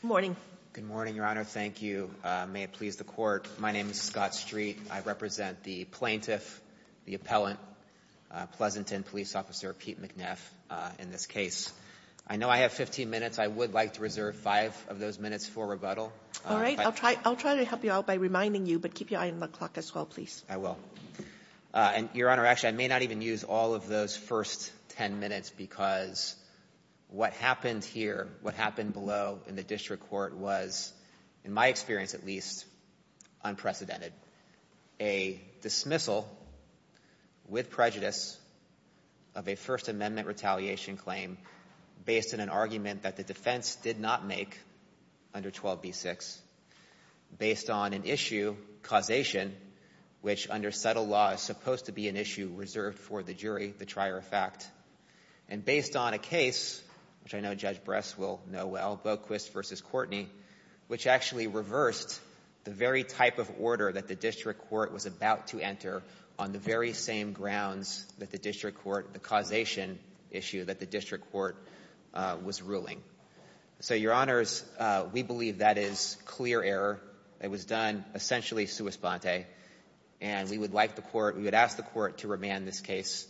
Good morning. Good morning, Your Honor. Thank you. May it please the Court, my name is Scott Street. I represent the plaintiff, the appellant, Pleasanton Police Officer Pete McNeff in this case. I know I have 15 minutes. I would like to reserve five of those minutes for rebuttal. All right. I'll try to help you out by reminding you, but keep your eye on the clock as well, please. I will. And Your Honor, actually, I may not even use all of those first 10 minutes because what happened here, what happened below in the district court was, in my experience at least, unprecedented. A dismissal with prejudice of a First Amendment retaliation claim based on an argument that the defense did not make under 12b-6, based on an issue, causation, which under subtle law is supposed to be an issue reserved for the jury, the trier of fact, and based on a case, which I know Judge Bress will know well, Boquist v. Courtney, which actually reversed the very type of order that the district court was about to enter on the very same grounds that the district court, the causation issue that the district court was ruling. So, Your Honors, we believe that is clear error. It was done, essentially, sua sponte, and we would like the court, we would ask the court to remand this case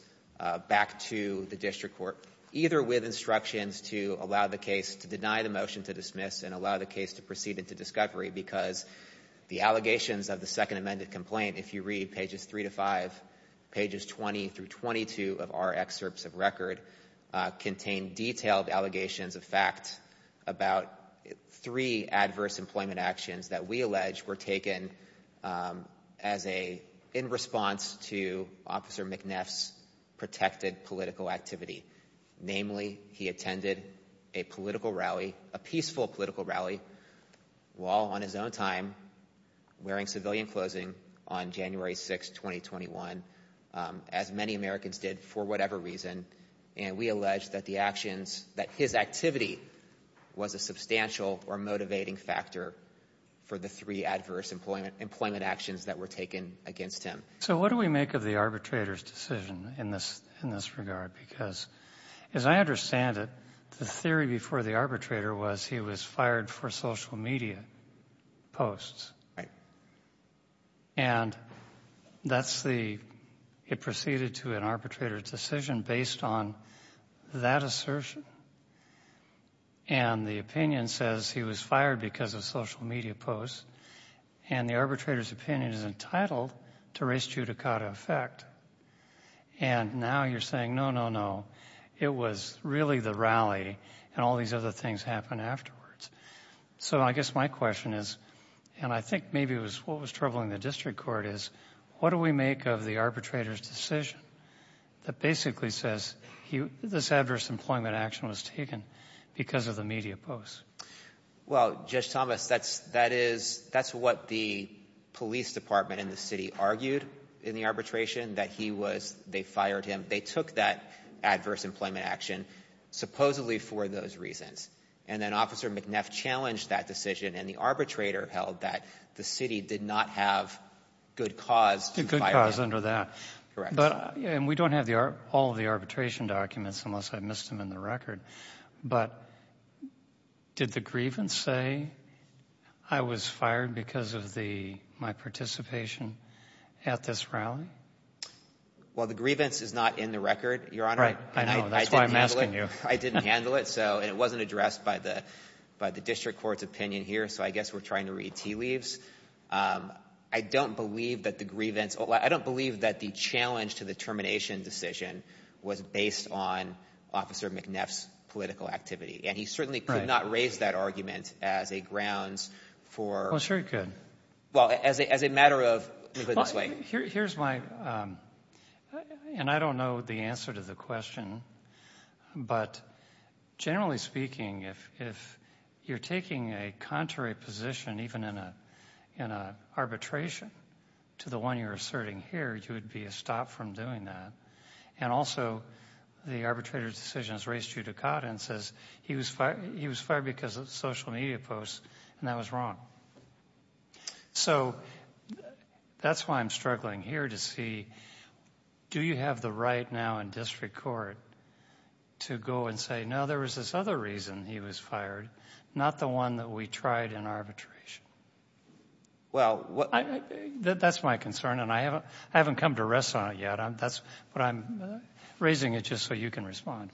back to the district court, either with instructions to allow the case to deny the motion to dismiss and allow the case to proceed into discovery because the allegations of the Second Amendment complaint, if you read pages three to five, pages 20 through 22 of our excerpts of record, contain detailed allegations of fact about three adverse employment actions that we were taken as a, in response to Officer McNeff's protected political activity. Namely, he attended a political rally, a peaceful political rally, while on his own time, wearing civilian clothing on January 6, 2021, as many Americans did for whatever reason, and we allege that the actions, that his activity was a substantial or motivating factor for the three adverse employment actions that were taken against him. So what do we make of the arbitrator's decision in this regard? Because, as I understand it, the theory before the arbitrator was he was fired for social media posts. And that's the, it proceeded to an arbitrator's decision based on that assertion. And the opinion says he was fired because of social media posts, and the arbitrator's opinion is entitled to res judicata effect. And now you're saying, no, no, no, it was really the rally and all these other things happened afterwards. So I guess my question is, and I think maybe it was what was troubling the district court is, what do we make of the arbitrator's decision that basically says this adverse employment action was taken because of the media posts? Well, Judge Thomas, that's, that is, that's what the police department in the city argued in the arbitration, that he was, they fired him. They took that adverse employment action supposedly for those reasons. And then Officer McNeff challenged that decision and the arbitrator held that the city did not have good cause to fire him. Good cause under that. Correct. And we don't have the, all of the arbitration documents unless I missed them in the record, but did the grievance say I was fired because of the, my participation at this rally? Well, the grievance is not in the record, Your Honor. I know, that's why I'm asking you. I didn't handle it. So, and it wasn't addressed by the, by the district court's opinion here. So I guess we're trying to read tea leaves. I don't believe that the grievance, I don't believe that the challenge to the termination decision was based on Officer McNeff's political activity. And he certainly could not raise that argument as a grounds for. Well, sure he could. Well, as a, as a matter of, let me put it this way. Here, here's my, and I don't know the answer to the question, but generally speaking, if, if you're taking a contrary position, even in a, in a arbitration to the one you're asserting here, you would be a stop from doing that. And also the arbitrator's decision is raised judicata and says he was fired, he was fired because of social media posts, and that was wrong. So that's why I'm struggling here to see, do you have the right now in district court to go and say, no, there was this other reason he was fired, not the one that we tried in arbitration? Well, that's my concern. And I haven't, I haven't come to rest on it yet. That's what I'm raising it just so you can respond.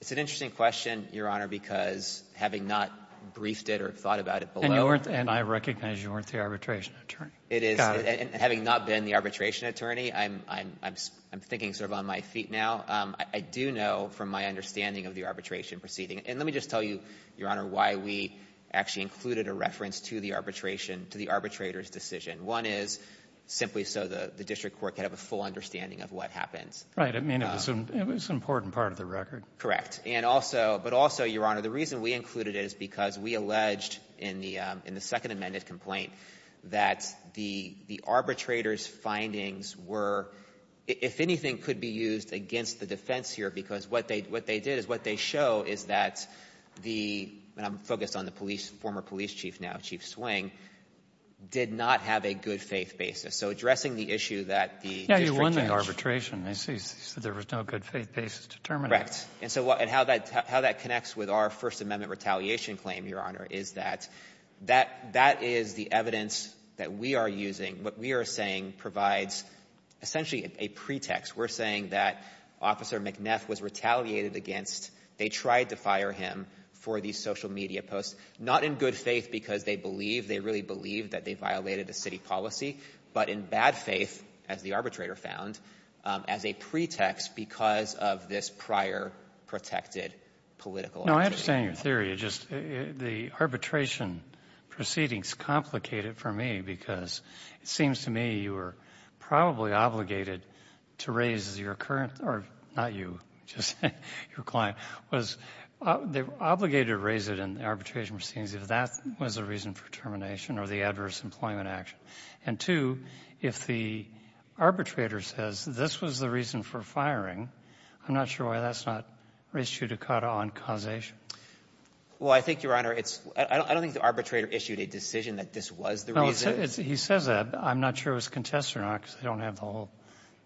It's an interesting question, Your Honor, because having not briefed it or thought about it below. And you weren't, and I recognize you weren't the arbitration attorney. It is. Having not been the arbitration attorney, I'm, I'm, I'm, I'm thinking sort of on my feet now. I do know from my understanding of the arbitration proceeding, and let me just tell you, Your Honor, why we actually included a reference to the arbitration, to the arbitrator's decision. One is simply so the, the district court could have a full understanding of what happens. I mean, it was an, it was an important part of the record. Correct. And also, but also, Your Honor, the reason we included it is because we alleged in the, in the Second Amendment complaint that the, the arbitrator's claims were, if anything, could be used against the defense here. Because what they, what they did is, what they show is that the, and I'm focused on the police, former police chief now, Chief Swing, did not have a good faith basis. So addressing the issue that the district judge ---- Now you won the arbitration. I see. So there was no good faith basis determined. Correct. And so what, and how that, how that connects with our First Amendment retaliation claim, Your Honor, is that, that, that is the evidence that we are using. What we are saying provides essentially a pretext. We're saying that Officer McNeff was retaliated against. They tried to fire him for these social media posts, not in good faith because they believe, they really believe that they violated the city policy, but in bad faith, as the arbitrator found, as a pretext because of this prior protected political argument. No, I understand your theory. It just, the arbitration proceedings complicated for me because it seems to me you were probably obligated to raise your current, or not you, just your client, was they were obligated to raise it in the arbitration proceedings if that was the reason for termination or the adverse employment action. And two, if the arbitrator says this was the reason for firing, I'm not sure why that's not res judicata on causation. Well, I think, Your Honor, it's, I don't think the arbitrator issued a decision that this was the reason. No, he says that. I'm not sure it was contested or not because I don't have the whole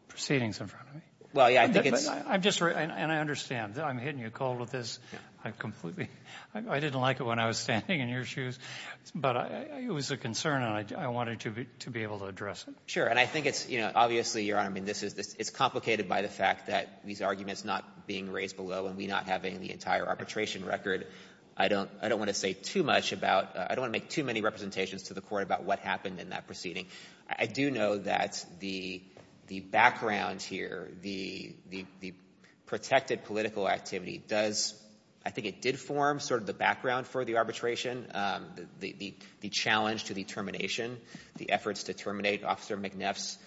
proceedings in front of me. Well, yeah, I think it's — I'm just, and I understand. I'm hitting you cold with this. I completely, I didn't like it when I was standing in your shoes. But it was a concern, and I wanted to be able to address it. Sure. And I think it's, you know, obviously, Your Honor, I mean, this is, it's complicated by the fact that these arguments not being raised below and we not having the entire arbitration record. I don't, I don't want to say too much about, I don't want to make too many representations to the court about what happened in that proceeding. I do know that the, the background here, the, the, the protected political activity does, I think it did form sort of the background for the arbitration, the, the, the challenge to the termination, the efforts to terminate Officer McNeff's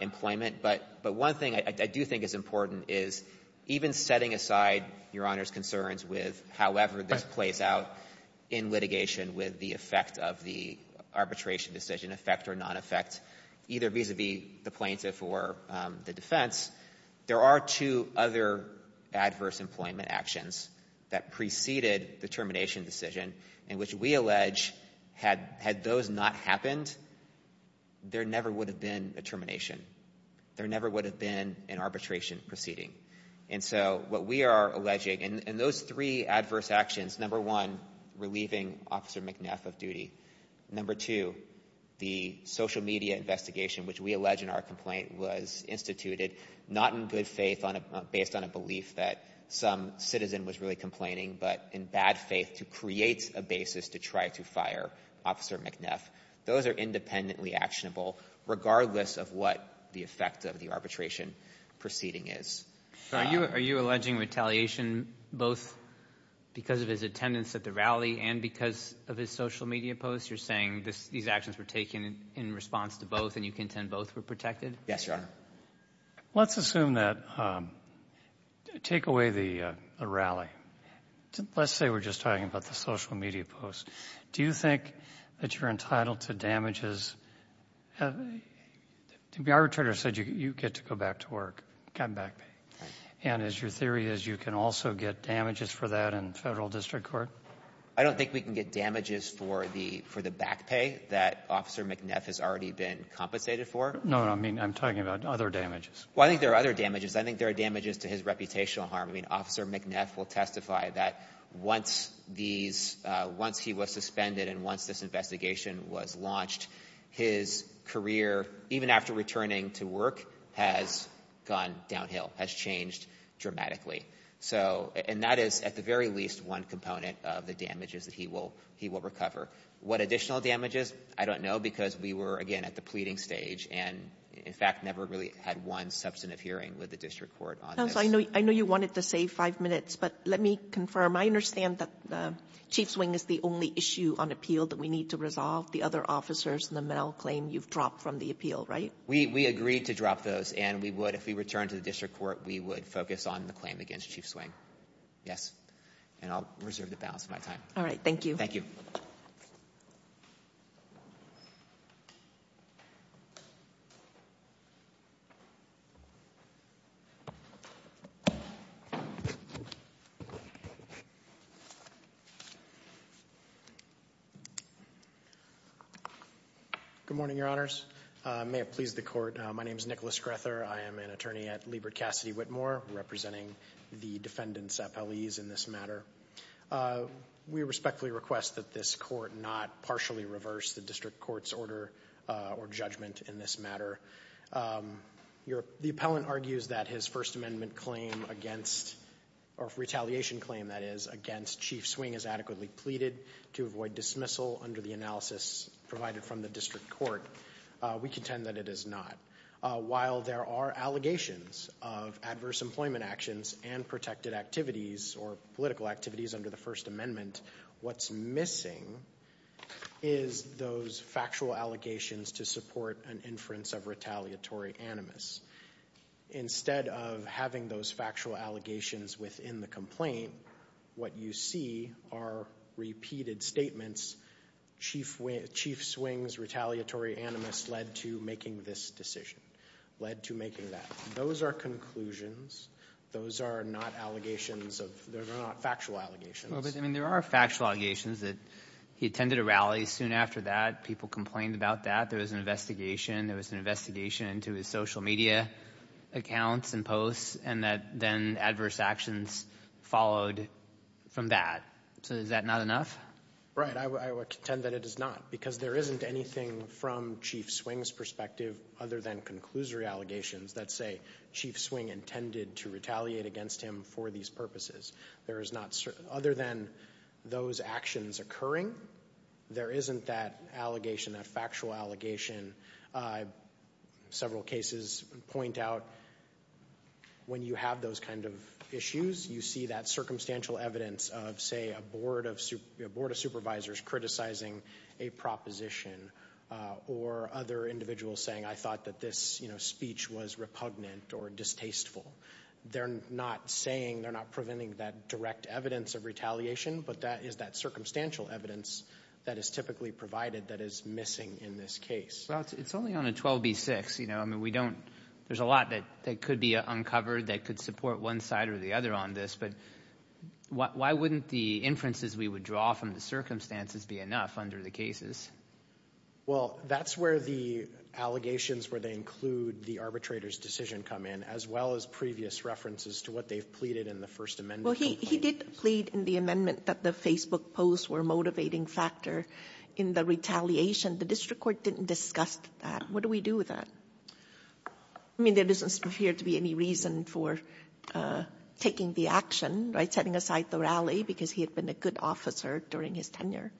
employment. But, but one thing I do think is important is even setting aside Your Honor's concerns with however this plays out in litigation with the effect of the arbitration decision, effect or non-effect, either vis-a-vis the plaintiff or the defense, there are two other adverse employment actions that preceded the termination decision in which we allege had, had those not happened, there never would have been a termination. There never would have been an arbitration proceeding. And so what we are alleging, and, and those three adverse actions, number one, relieving Officer McNeff of duty. Number two, the social media investigation, which we allege in our complaint was instituted not in good faith on a, based on a belief that some citizen was really complaining, but in bad faith to create a basis to try to fire Officer McNeff. Those are independently actionable, regardless of what the effect of the arbitration proceeding is. So are you, are you alleging retaliation, both because of his attendance at the rally and because of his social media posts? You're saying this, these actions were taken in response to both and you contend both were protected? Yes, Your Honor. Let's assume that, take away the rally, let's say we're just talking about the social media posts. Do you think that you're entitled to damages? The arbitrator said you get to go back to work, come back. And as your theory is, you can also get damages for that in federal district court? I don't think we can get damages for the, for the back pay that Officer McNeff has already been compensated for. No, I mean, I'm talking about other damages. Well, I think there are other damages. I think there are damages to his reputational harm. I mean, Officer McNeff will testify that once these, once he was suspended and once this investigation was launched, his career, even after returning to work, has gone downhill, has changed dramatically. So, and that is at the very least one component of the damages that he will, he will recover. What additional damages? I don't know, because we were again at the pleading stage and in fact, never really had one substantive hearing with the district court on this. I know, I know you wanted to say five minutes, but let me confirm. I understand that Chief Swing is the only issue on appeal that we need to resolve. The other officers in the Mell claim you've dropped from the appeal, right? We, we agreed to drop those and we would, if we returned to the district court, we would focus on the claim against Chief Swing. Yes. And I'll reserve the balance of my time. All right. Thank you. Thank you. Good morning, Your Honors. May it please the court. My name is Nicholas Grether. I am an attorney at Liebert Cassidy Whitmore, representing the defendants appellees in this matter. We respectfully request that this court not partially reverse the district court's order or judgment in this matter. Your, the appellant argues that his first amendment claim against, or retaliation claim, that is, on the first amendment, the first amendment, the first amendment against Chief Swing is adequately pleaded to avoid dismissal under the analysis provided from the district court. We contend that it is not. While there are allegations of adverse employment actions and protected activities or political activities under the first amendment, what's missing is those factual allegations to support an inference of retaliatory animus. Instead of having those factual allegations within the complaint, what you see are repeated statements, Chief Swing's retaliatory animus led to making this decision, led to making that. Those are conclusions. Those are not allegations of, those are not factual allegations. Well, but I mean, there are factual allegations that he attended a rally soon after that, people complained about that. There was an investigation. There was an investigation into his social media accounts and posts, and that then adverse actions followed from that. So is that not enough? Right. I would contend that it is not, because there isn't anything from Chief Swing's perspective other than conclusory allegations that say Chief Swing intended to retaliate against him for these purposes. There is not certain, other than those actions occurring, there isn't that allegation, that factual allegation. Several cases point out when you have those kinds of issues, you see that circumstantial evidence of, say, a board of supervisors criticizing a proposition or other individuals saying, I thought that this speech was repugnant or distasteful. They're not saying, they're not preventing that direct evidence of retaliation, but that is that circumstantial evidence that is typically provided that is missing in this case. Well, it's only on a 12b-6. You know, I mean, we don't, there's a lot that could be uncovered that could support one side or the other on this, but why wouldn't the inferences we would draw from the circumstances be enough under the cases? Well, that's where the allegations where they include the arbitrator's decision come in, as well as previous references to what they've pleaded in the First Amendment. Well, he did plead in the amendment that the Facebook posts were a motivating factor in the retaliation. The district court didn't discuss that. What do we do with that? I mean, there doesn't appear to be any reason for taking the action, right, setting aside the rally, because he had been a good officer during his tenure.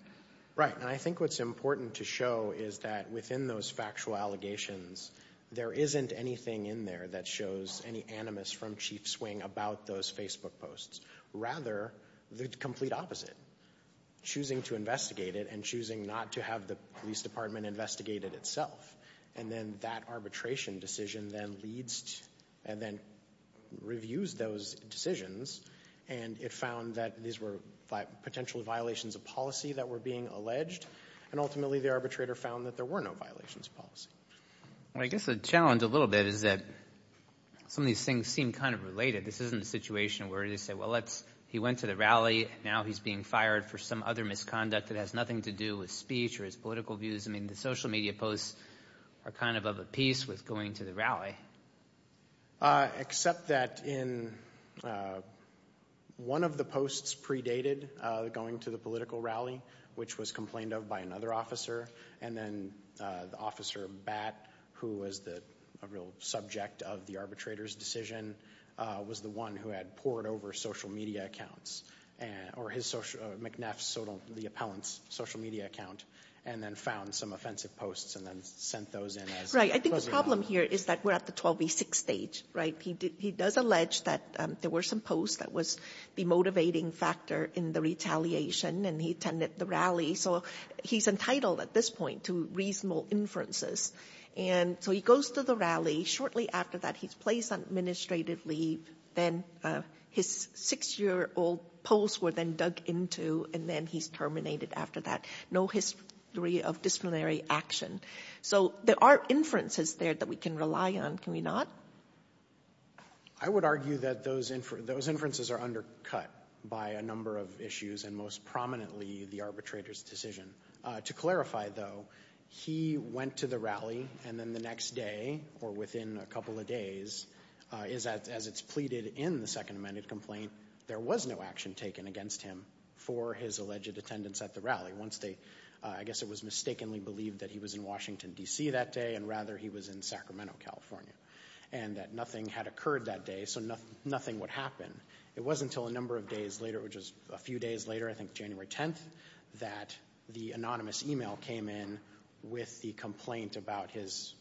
Right. And I think what's important to show is that within those factual allegations, there isn't anything in there that shows any animus from Chief Swing about those Facebook posts, rather the complete opposite, choosing to investigate it and choosing not to have the police department investigate it itself. And then that arbitration decision then leads and then reviews those decisions. And it found that these were potential violations of policy that were being alleged. And ultimately the arbitrator found that there were no violations of policy. Well, I guess the challenge a little bit is that some of these things seem kind of related. This isn't a situation where they say, well, he went to the rally, now he's being fired for some other misconduct that has nothing to do with speech or his political views. I mean, the social media posts are kind of of a piece with going to the rally. Except that in one of the posts predated going to the political rally, which was complained of by another officer. And then Officer Batt, who was the real subject of the arbitrator's decision, was the one who had poured over social media accounts or his social, McNaff's, the appellant's social media account, and then found some offensive posts and then sent those in. Right. I think the problem here is that we're at the 12v6 stage, right? He does allege that there were some posts that was the motivating factor in the retaliation and he attended the rally. So he's entitled at this point to reasonable inferences. And so he goes to the rally. Shortly after that, he's placed on administrative leave. Then his six-year-old posts were then dug into, and then he's terminated after that. No history of disciplinary action. So there are inferences there that we can rely on, can we not? I would argue that those inferences are undercut by a number of issues, and most prominently the arbitrator's decision. To clarify, though, he went to the rally and then the next day, or within a couple of days, as it's pleaded in the second amended complaint, there was no action taken against him for his alleged attendance at the rally. Once they, I guess it was mistakenly believed that he was in Washington, D.C. that day, and rather he was in Sacramento, California, and that nothing had occurred that day. So nothing would happen. It wasn't until a number of days later, which was a few days later, I think January 10th, that the anonymous e-mail came in with the complaint about his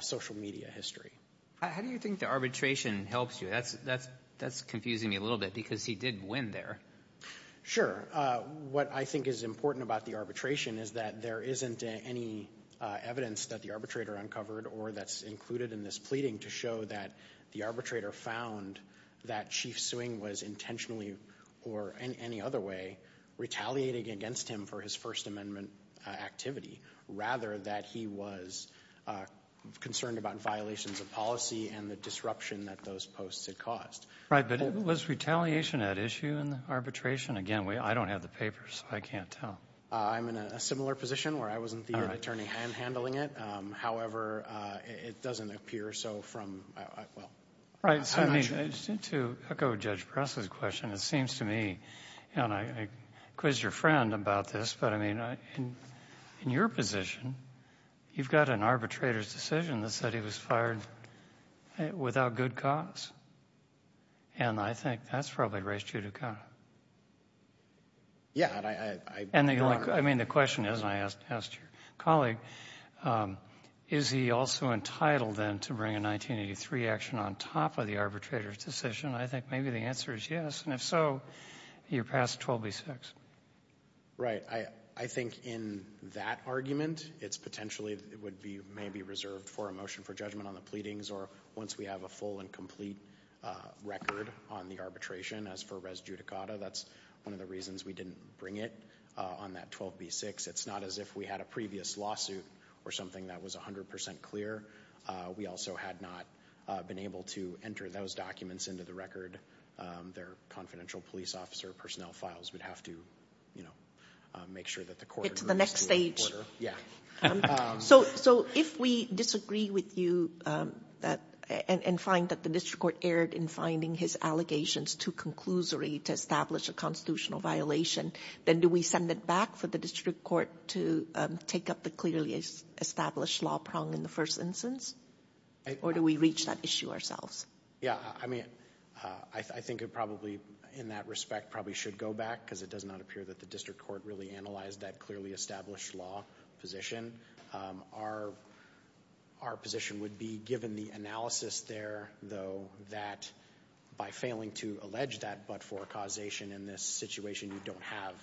social media history. How do you think the arbitration helps you? That's confusing me a little bit because he did win there. Sure. What I think is important about the arbitration is that there isn't any evidence that the arbitrator uncovered or that's included in this pleading to show that the arbitrator found that Chief Suing was intentionally or in any other way retaliating against him for his First Amendment activity, rather that he was concerned about violations of policy and the disruption that those posts had caused. But was retaliation at issue in the arbitration? Again, I don't have the papers. I can't tell. I'm in a similar position where I wasn't the attorney handling it. However, it doesn't appear so from, well, I'm not sure. I mean, to echo Judge Pressley's question, it seems to me, and I quizzed your friend about this, but I mean, in your position, you've got an arbitrator's decision that said he was fired without good cause. And I think that's probably race judicata. Yeah, I mean, the question is, and I asked your colleague, is he also entitled then to bring a 1983 action on top of the arbitrator's decision? I think maybe the answer is yes, and if so, you're past 12b-6. I think in that argument, it's potentially, it would be, may be reserved for a motion for judgment on the pleadings or once we have a full and complete record on the arbitration. As for race judicata, that's one of the reasons we didn't bring it on that 12b-6. It's not as if we had a previous lawsuit or something that was 100% clear. We also had not been able to enter those documents into the record. Their confidential police officer personnel files would have to, you know, make sure that the court- It's the next stage. Yeah. So if we disagree with you and find that the district court erred in finding his allegations too conclusory to establish a constitutional violation, then do we send it back for the district court to take up the clearly established law prong in the first instance, or do we reach that issue ourselves? Yeah, I mean, I think it probably, in that respect, probably should go back because it does not appear that the district court really analyzed that clearly established law position. Our position would be, given the analysis there, though, that by failing to allege that but-for causation in this situation, you don't have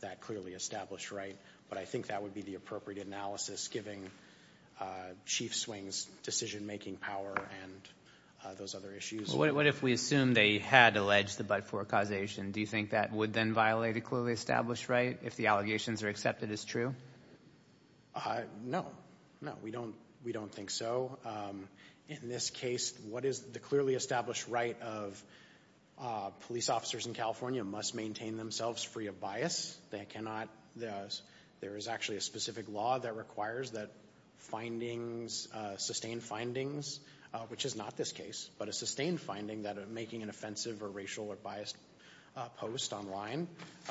that clearly established right. But I think that would be the appropriate analysis, given Chief Swing's decision-making power and those other issues. What if we assume they had alleged the but-for causation? Do you think that would then violate a clearly established right if the allegations are accepted as true? No. No, we don't think so. In this case, what is the clearly established right of police officers in California must maintain themselves free of bias. There is actually a specific law that requires that findings, sustained findings, which is not this case, but a sustained finding that making an offensive or racial or biased post online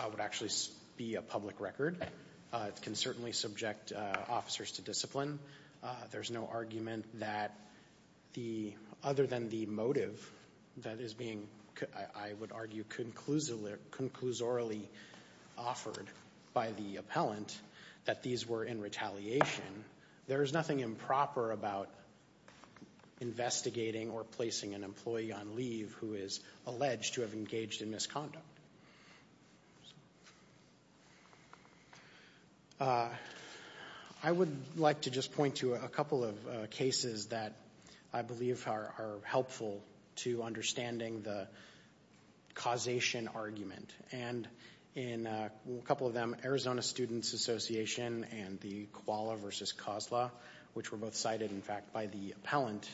would actually be a public record. It can certainly subject officers to discipline. There's no argument that the, other than the motive that is being, I would argue, conclusorily offered by the appellant, that these were in retaliation. There is nothing improper about investigating or placing an employee on leave who is alleged to have engaged in misconduct. I would like to just point to a couple of cases that I believe are helpful to understanding the causation argument. And in a couple of them, Arizona Students Association and the Koala versus Kozla, which were both cited, in fact, by the appellant,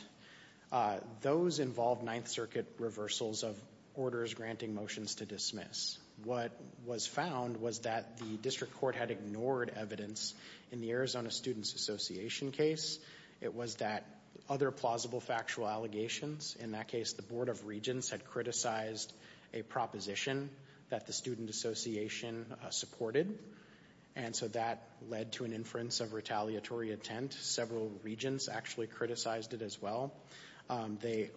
those involved Ninth Circuit reversals of orders granting motions to dismiss. What was found was that the district court had ignored evidence in the Arizona Students Association case. It was that other plausible factual allegations, in that case, the Board of Regents had criticized a proposition that the Student Association supported. And so that led to an inference of retaliatory intent. Several regents actually criticized it as well. They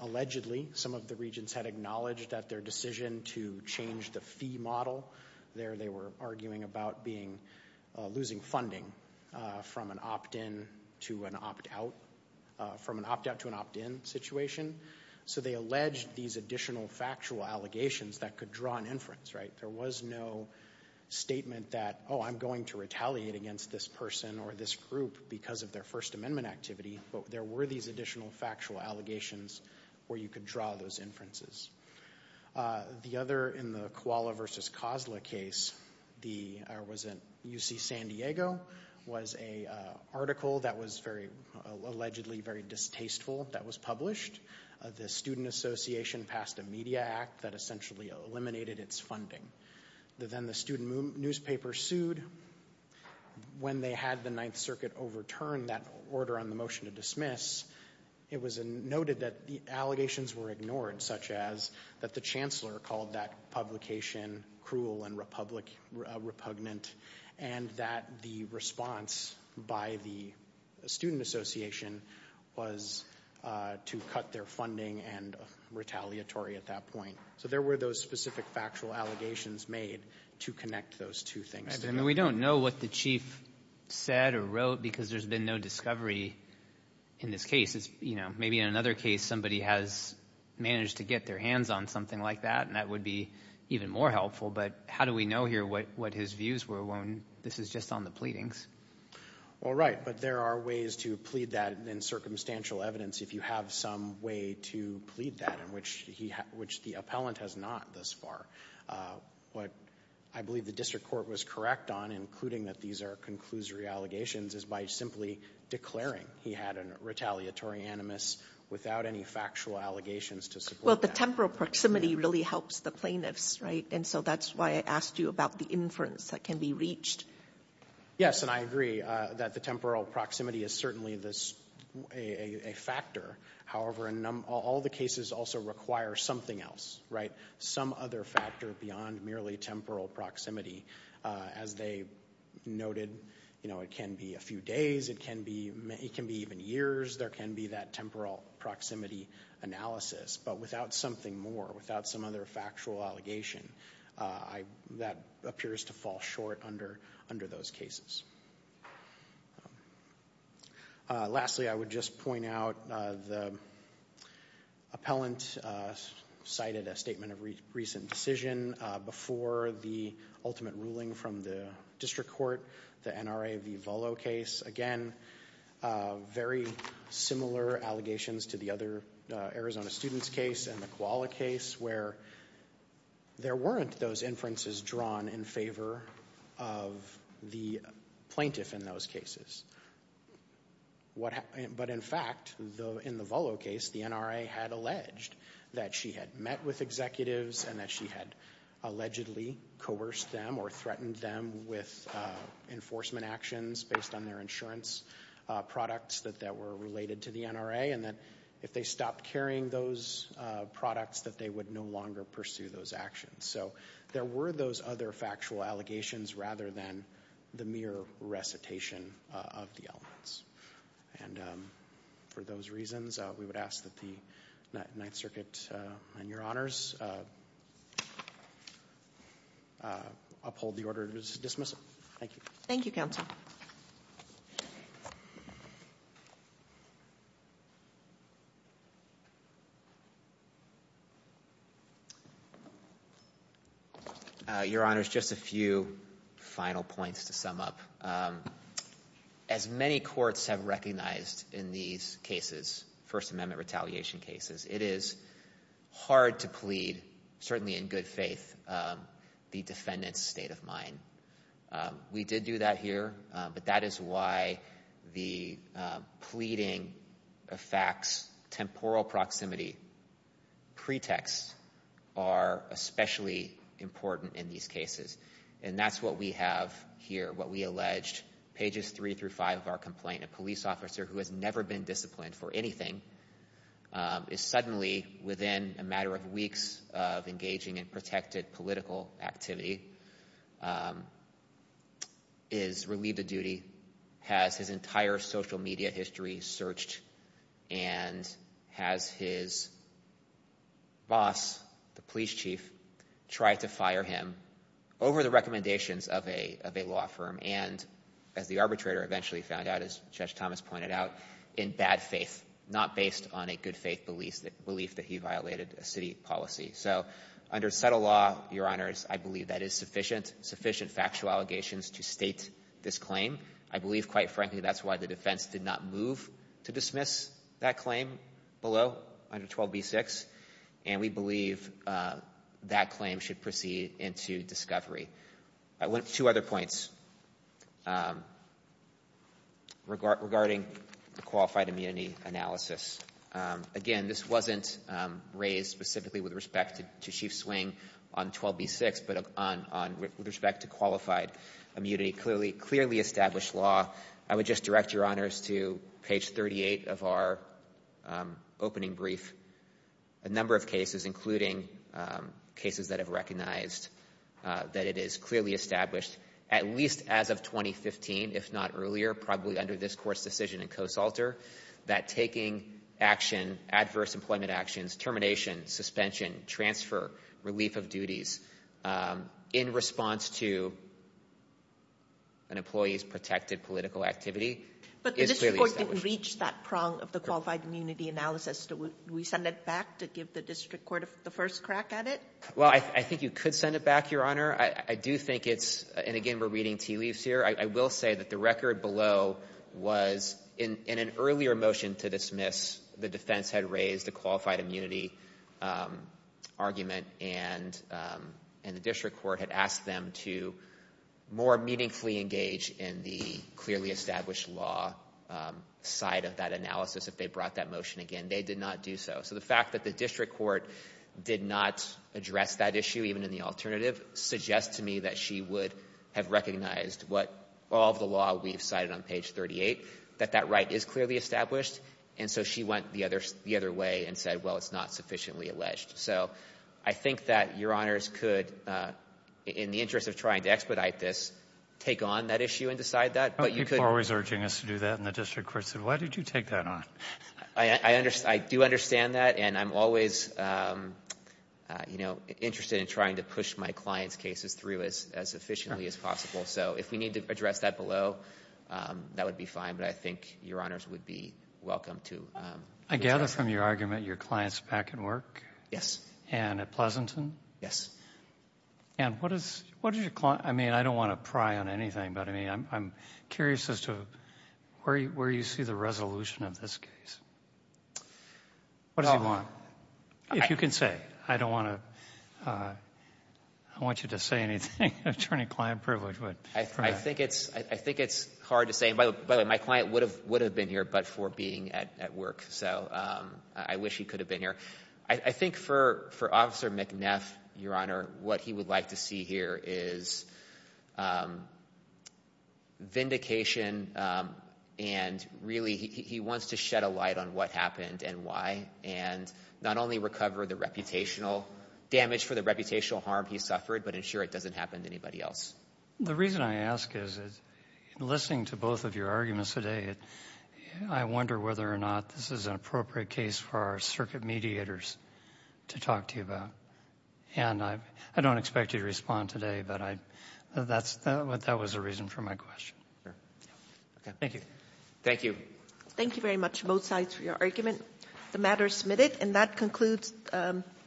allegedly, some of the regents had acknowledged that their decision to change the fee model, there they were arguing about being, losing funding from an opt-in to an opt-out, from an opt-out to an opt-in situation. So they alleged these additional factual allegations that could draw an inference, right? There was no statement that, oh, I'm going to retaliate against this person or this group because of their First Amendment activity, but there were these additional factual allegations where you could draw those inferences. The other, in the Koala versus Kozla case, the, it was in UC San Diego, was an article that was very, allegedly very distasteful that was published. The Student Association passed a media act that essentially eliminated its funding. Then the student newspaper sued. When they had the Ninth Circuit overturn that order on the motion to dismiss, it was noted that the allegations were ignored, such as that the chancellor called that publication cruel and repugnant, and that the response by the Student Association was to cut their funding and retaliatory at that point. So there were those specific factual allegations made to connect those two things together. And we don't know what the chief said or wrote because there's been no discovery in this case. It's, you know, maybe in another case somebody has managed to get their hands on something like that, and that would be even more helpful. But how do we know here what his views were when this is just on the pleadings? Well, right, but there are ways to plead that in circumstantial evidence if you have some way to plead that, which the appellant has not thus far. What I believe the district court was correct on, including that these are conclusory allegations, is by simply declaring he had a retaliatory animus without any factual allegations to support that. Well, the temporal proximity really helps the plaintiffs, right? And so that's why I asked you about the inference that can be reached. Yes, and I agree that the temporal proximity is certainly a factor. However, all the cases also require something else, right? Some other factor beyond merely temporal proximity. As they noted, you know, it can be a few days, it can be even years, there can be that temporal proximity analysis. But without something more, without some other factual allegation, that appears to fall short under those cases. Lastly, I would just point out the appellant cited a statement of recent decision before the ultimate ruling from the district court, the NRA v. Volo case. Again, very similar allegations to the other Arizona students case and the Koala case where there weren't those inferences drawn in favor of the plaintiff in those cases. But in fact, in the Volo case, the NRA had alleged that she had met with executives and that she had allegedly coerced them or threatened them with enforcement actions based on their insurance products that were related to the NRA and that if they stopped carrying those products, that they would no longer pursue those actions. So there were those other factual allegations rather than the mere recitation of the elements. And for those reasons, we would ask that the Ninth Circuit and your honors uphold the order to dismiss it. Thank you. Thank you, counsel. Your honors, just a few final points to sum up. As many courts have recognized in these cases, First Amendment retaliation cases, it is hard to plead, certainly in good faith, the defendant's state of mind. We did do that here, but that is why the pleading of facts, temporal proximity, pretexts are especially important in these cases. And that's what we have here, what we alleged. Pages three through five of our complaint, a police officer who has never been disciplined for anything is suddenly, within a matter of weeks of engaging in protected political activity, is relieved of duty, has his entire social media history searched, and has his boss, the police chief, try to fire him over the recommendations of a law firm and, as the arbitrator eventually found out, as Judge Thomas pointed out, in bad faith, not based on a good faith belief that he violated a city policy. So under subtle law, your honors, I believe that is sufficient, sufficient factual allegations to state this claim. I believe, quite frankly, that's why the defense did not move to dismiss that claim below under 12b-6. And we believe that claim should proceed into discovery. Two other points regarding the qualified immunity analysis. Again, this wasn't raised specifically with respect to Chief Swing on 12b-6, but with respect to qualified immunity. Clearly established law. I would just direct your honors to page 38 of our opening brief. A number of cases, including cases that have recognized that it is clearly established, at least as of 2015, if not earlier, probably under this court's decision in Coastalter, that taking action, adverse employment actions, termination, suspension, transfer, relief of duties, in response to an employee's protected political activity, is clearly established. If it didn't reach that prong of the qualified immunity analysis, do we send it back to give the district court the first crack at it? Well, I think you could send it back, your honor. I do think it's, and again, we're reading tea leaves here, I will say that the record below was, in an earlier motion to dismiss, the defense had raised a qualified immunity argument, and the district court had asked them to more meaningfully engage in the clearly established law side of that analysis if they brought that motion again. They did not do so. So the fact that the district court did not address that issue, even in the alternative, suggests to me that she would have recognized what all of the law we've cited on page 38, that that right is clearly established, and so she went the other way and said, well, it's not sufficiently alleged. So I think that your honors could, in the interest of trying to expedite this, take on that issue and decide that, but you could... People are always urging us to do that, and the district court said, why did you take that on? I do understand that, and I'm always interested in trying to push my client's cases through as efficiently as possible. So if we need to address that below, that would be fine, but I think your honors would be welcome to... I gather from your argument, your client's back at work? Yes. And at Pleasanton? Yes. And what does your client... I mean, I don't want to pry on anything, but I'm curious as to where you see the resolution of this case. What does he want? If you can say. I don't want to... I don't want you to say anything, attorney-client privilege, but... I think it's hard to say. By the way, my client would have been here but for being at work, so I wish he could have been here. I think for Officer McNeff, your honor, what he would like to see here is vindication and really, he wants to shed a light on what happened and why, and not only recover the reputational damage for the reputational harm he suffered, but ensure it doesn't happen to anybody else. The reason I ask is, listening to both of your arguments today, I wonder whether or not this is an appropriate case for our circuit mediators to talk to you about. And I don't expect you to respond today, but that was the reason for my question. Thank you. Thank you. Thank you very much, both sides, for your argument. The matter is submitted. And that concludes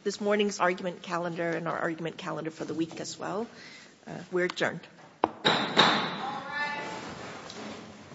this morning's argument calendar and our argument calendar for the week as well. We're adjourned. All rise.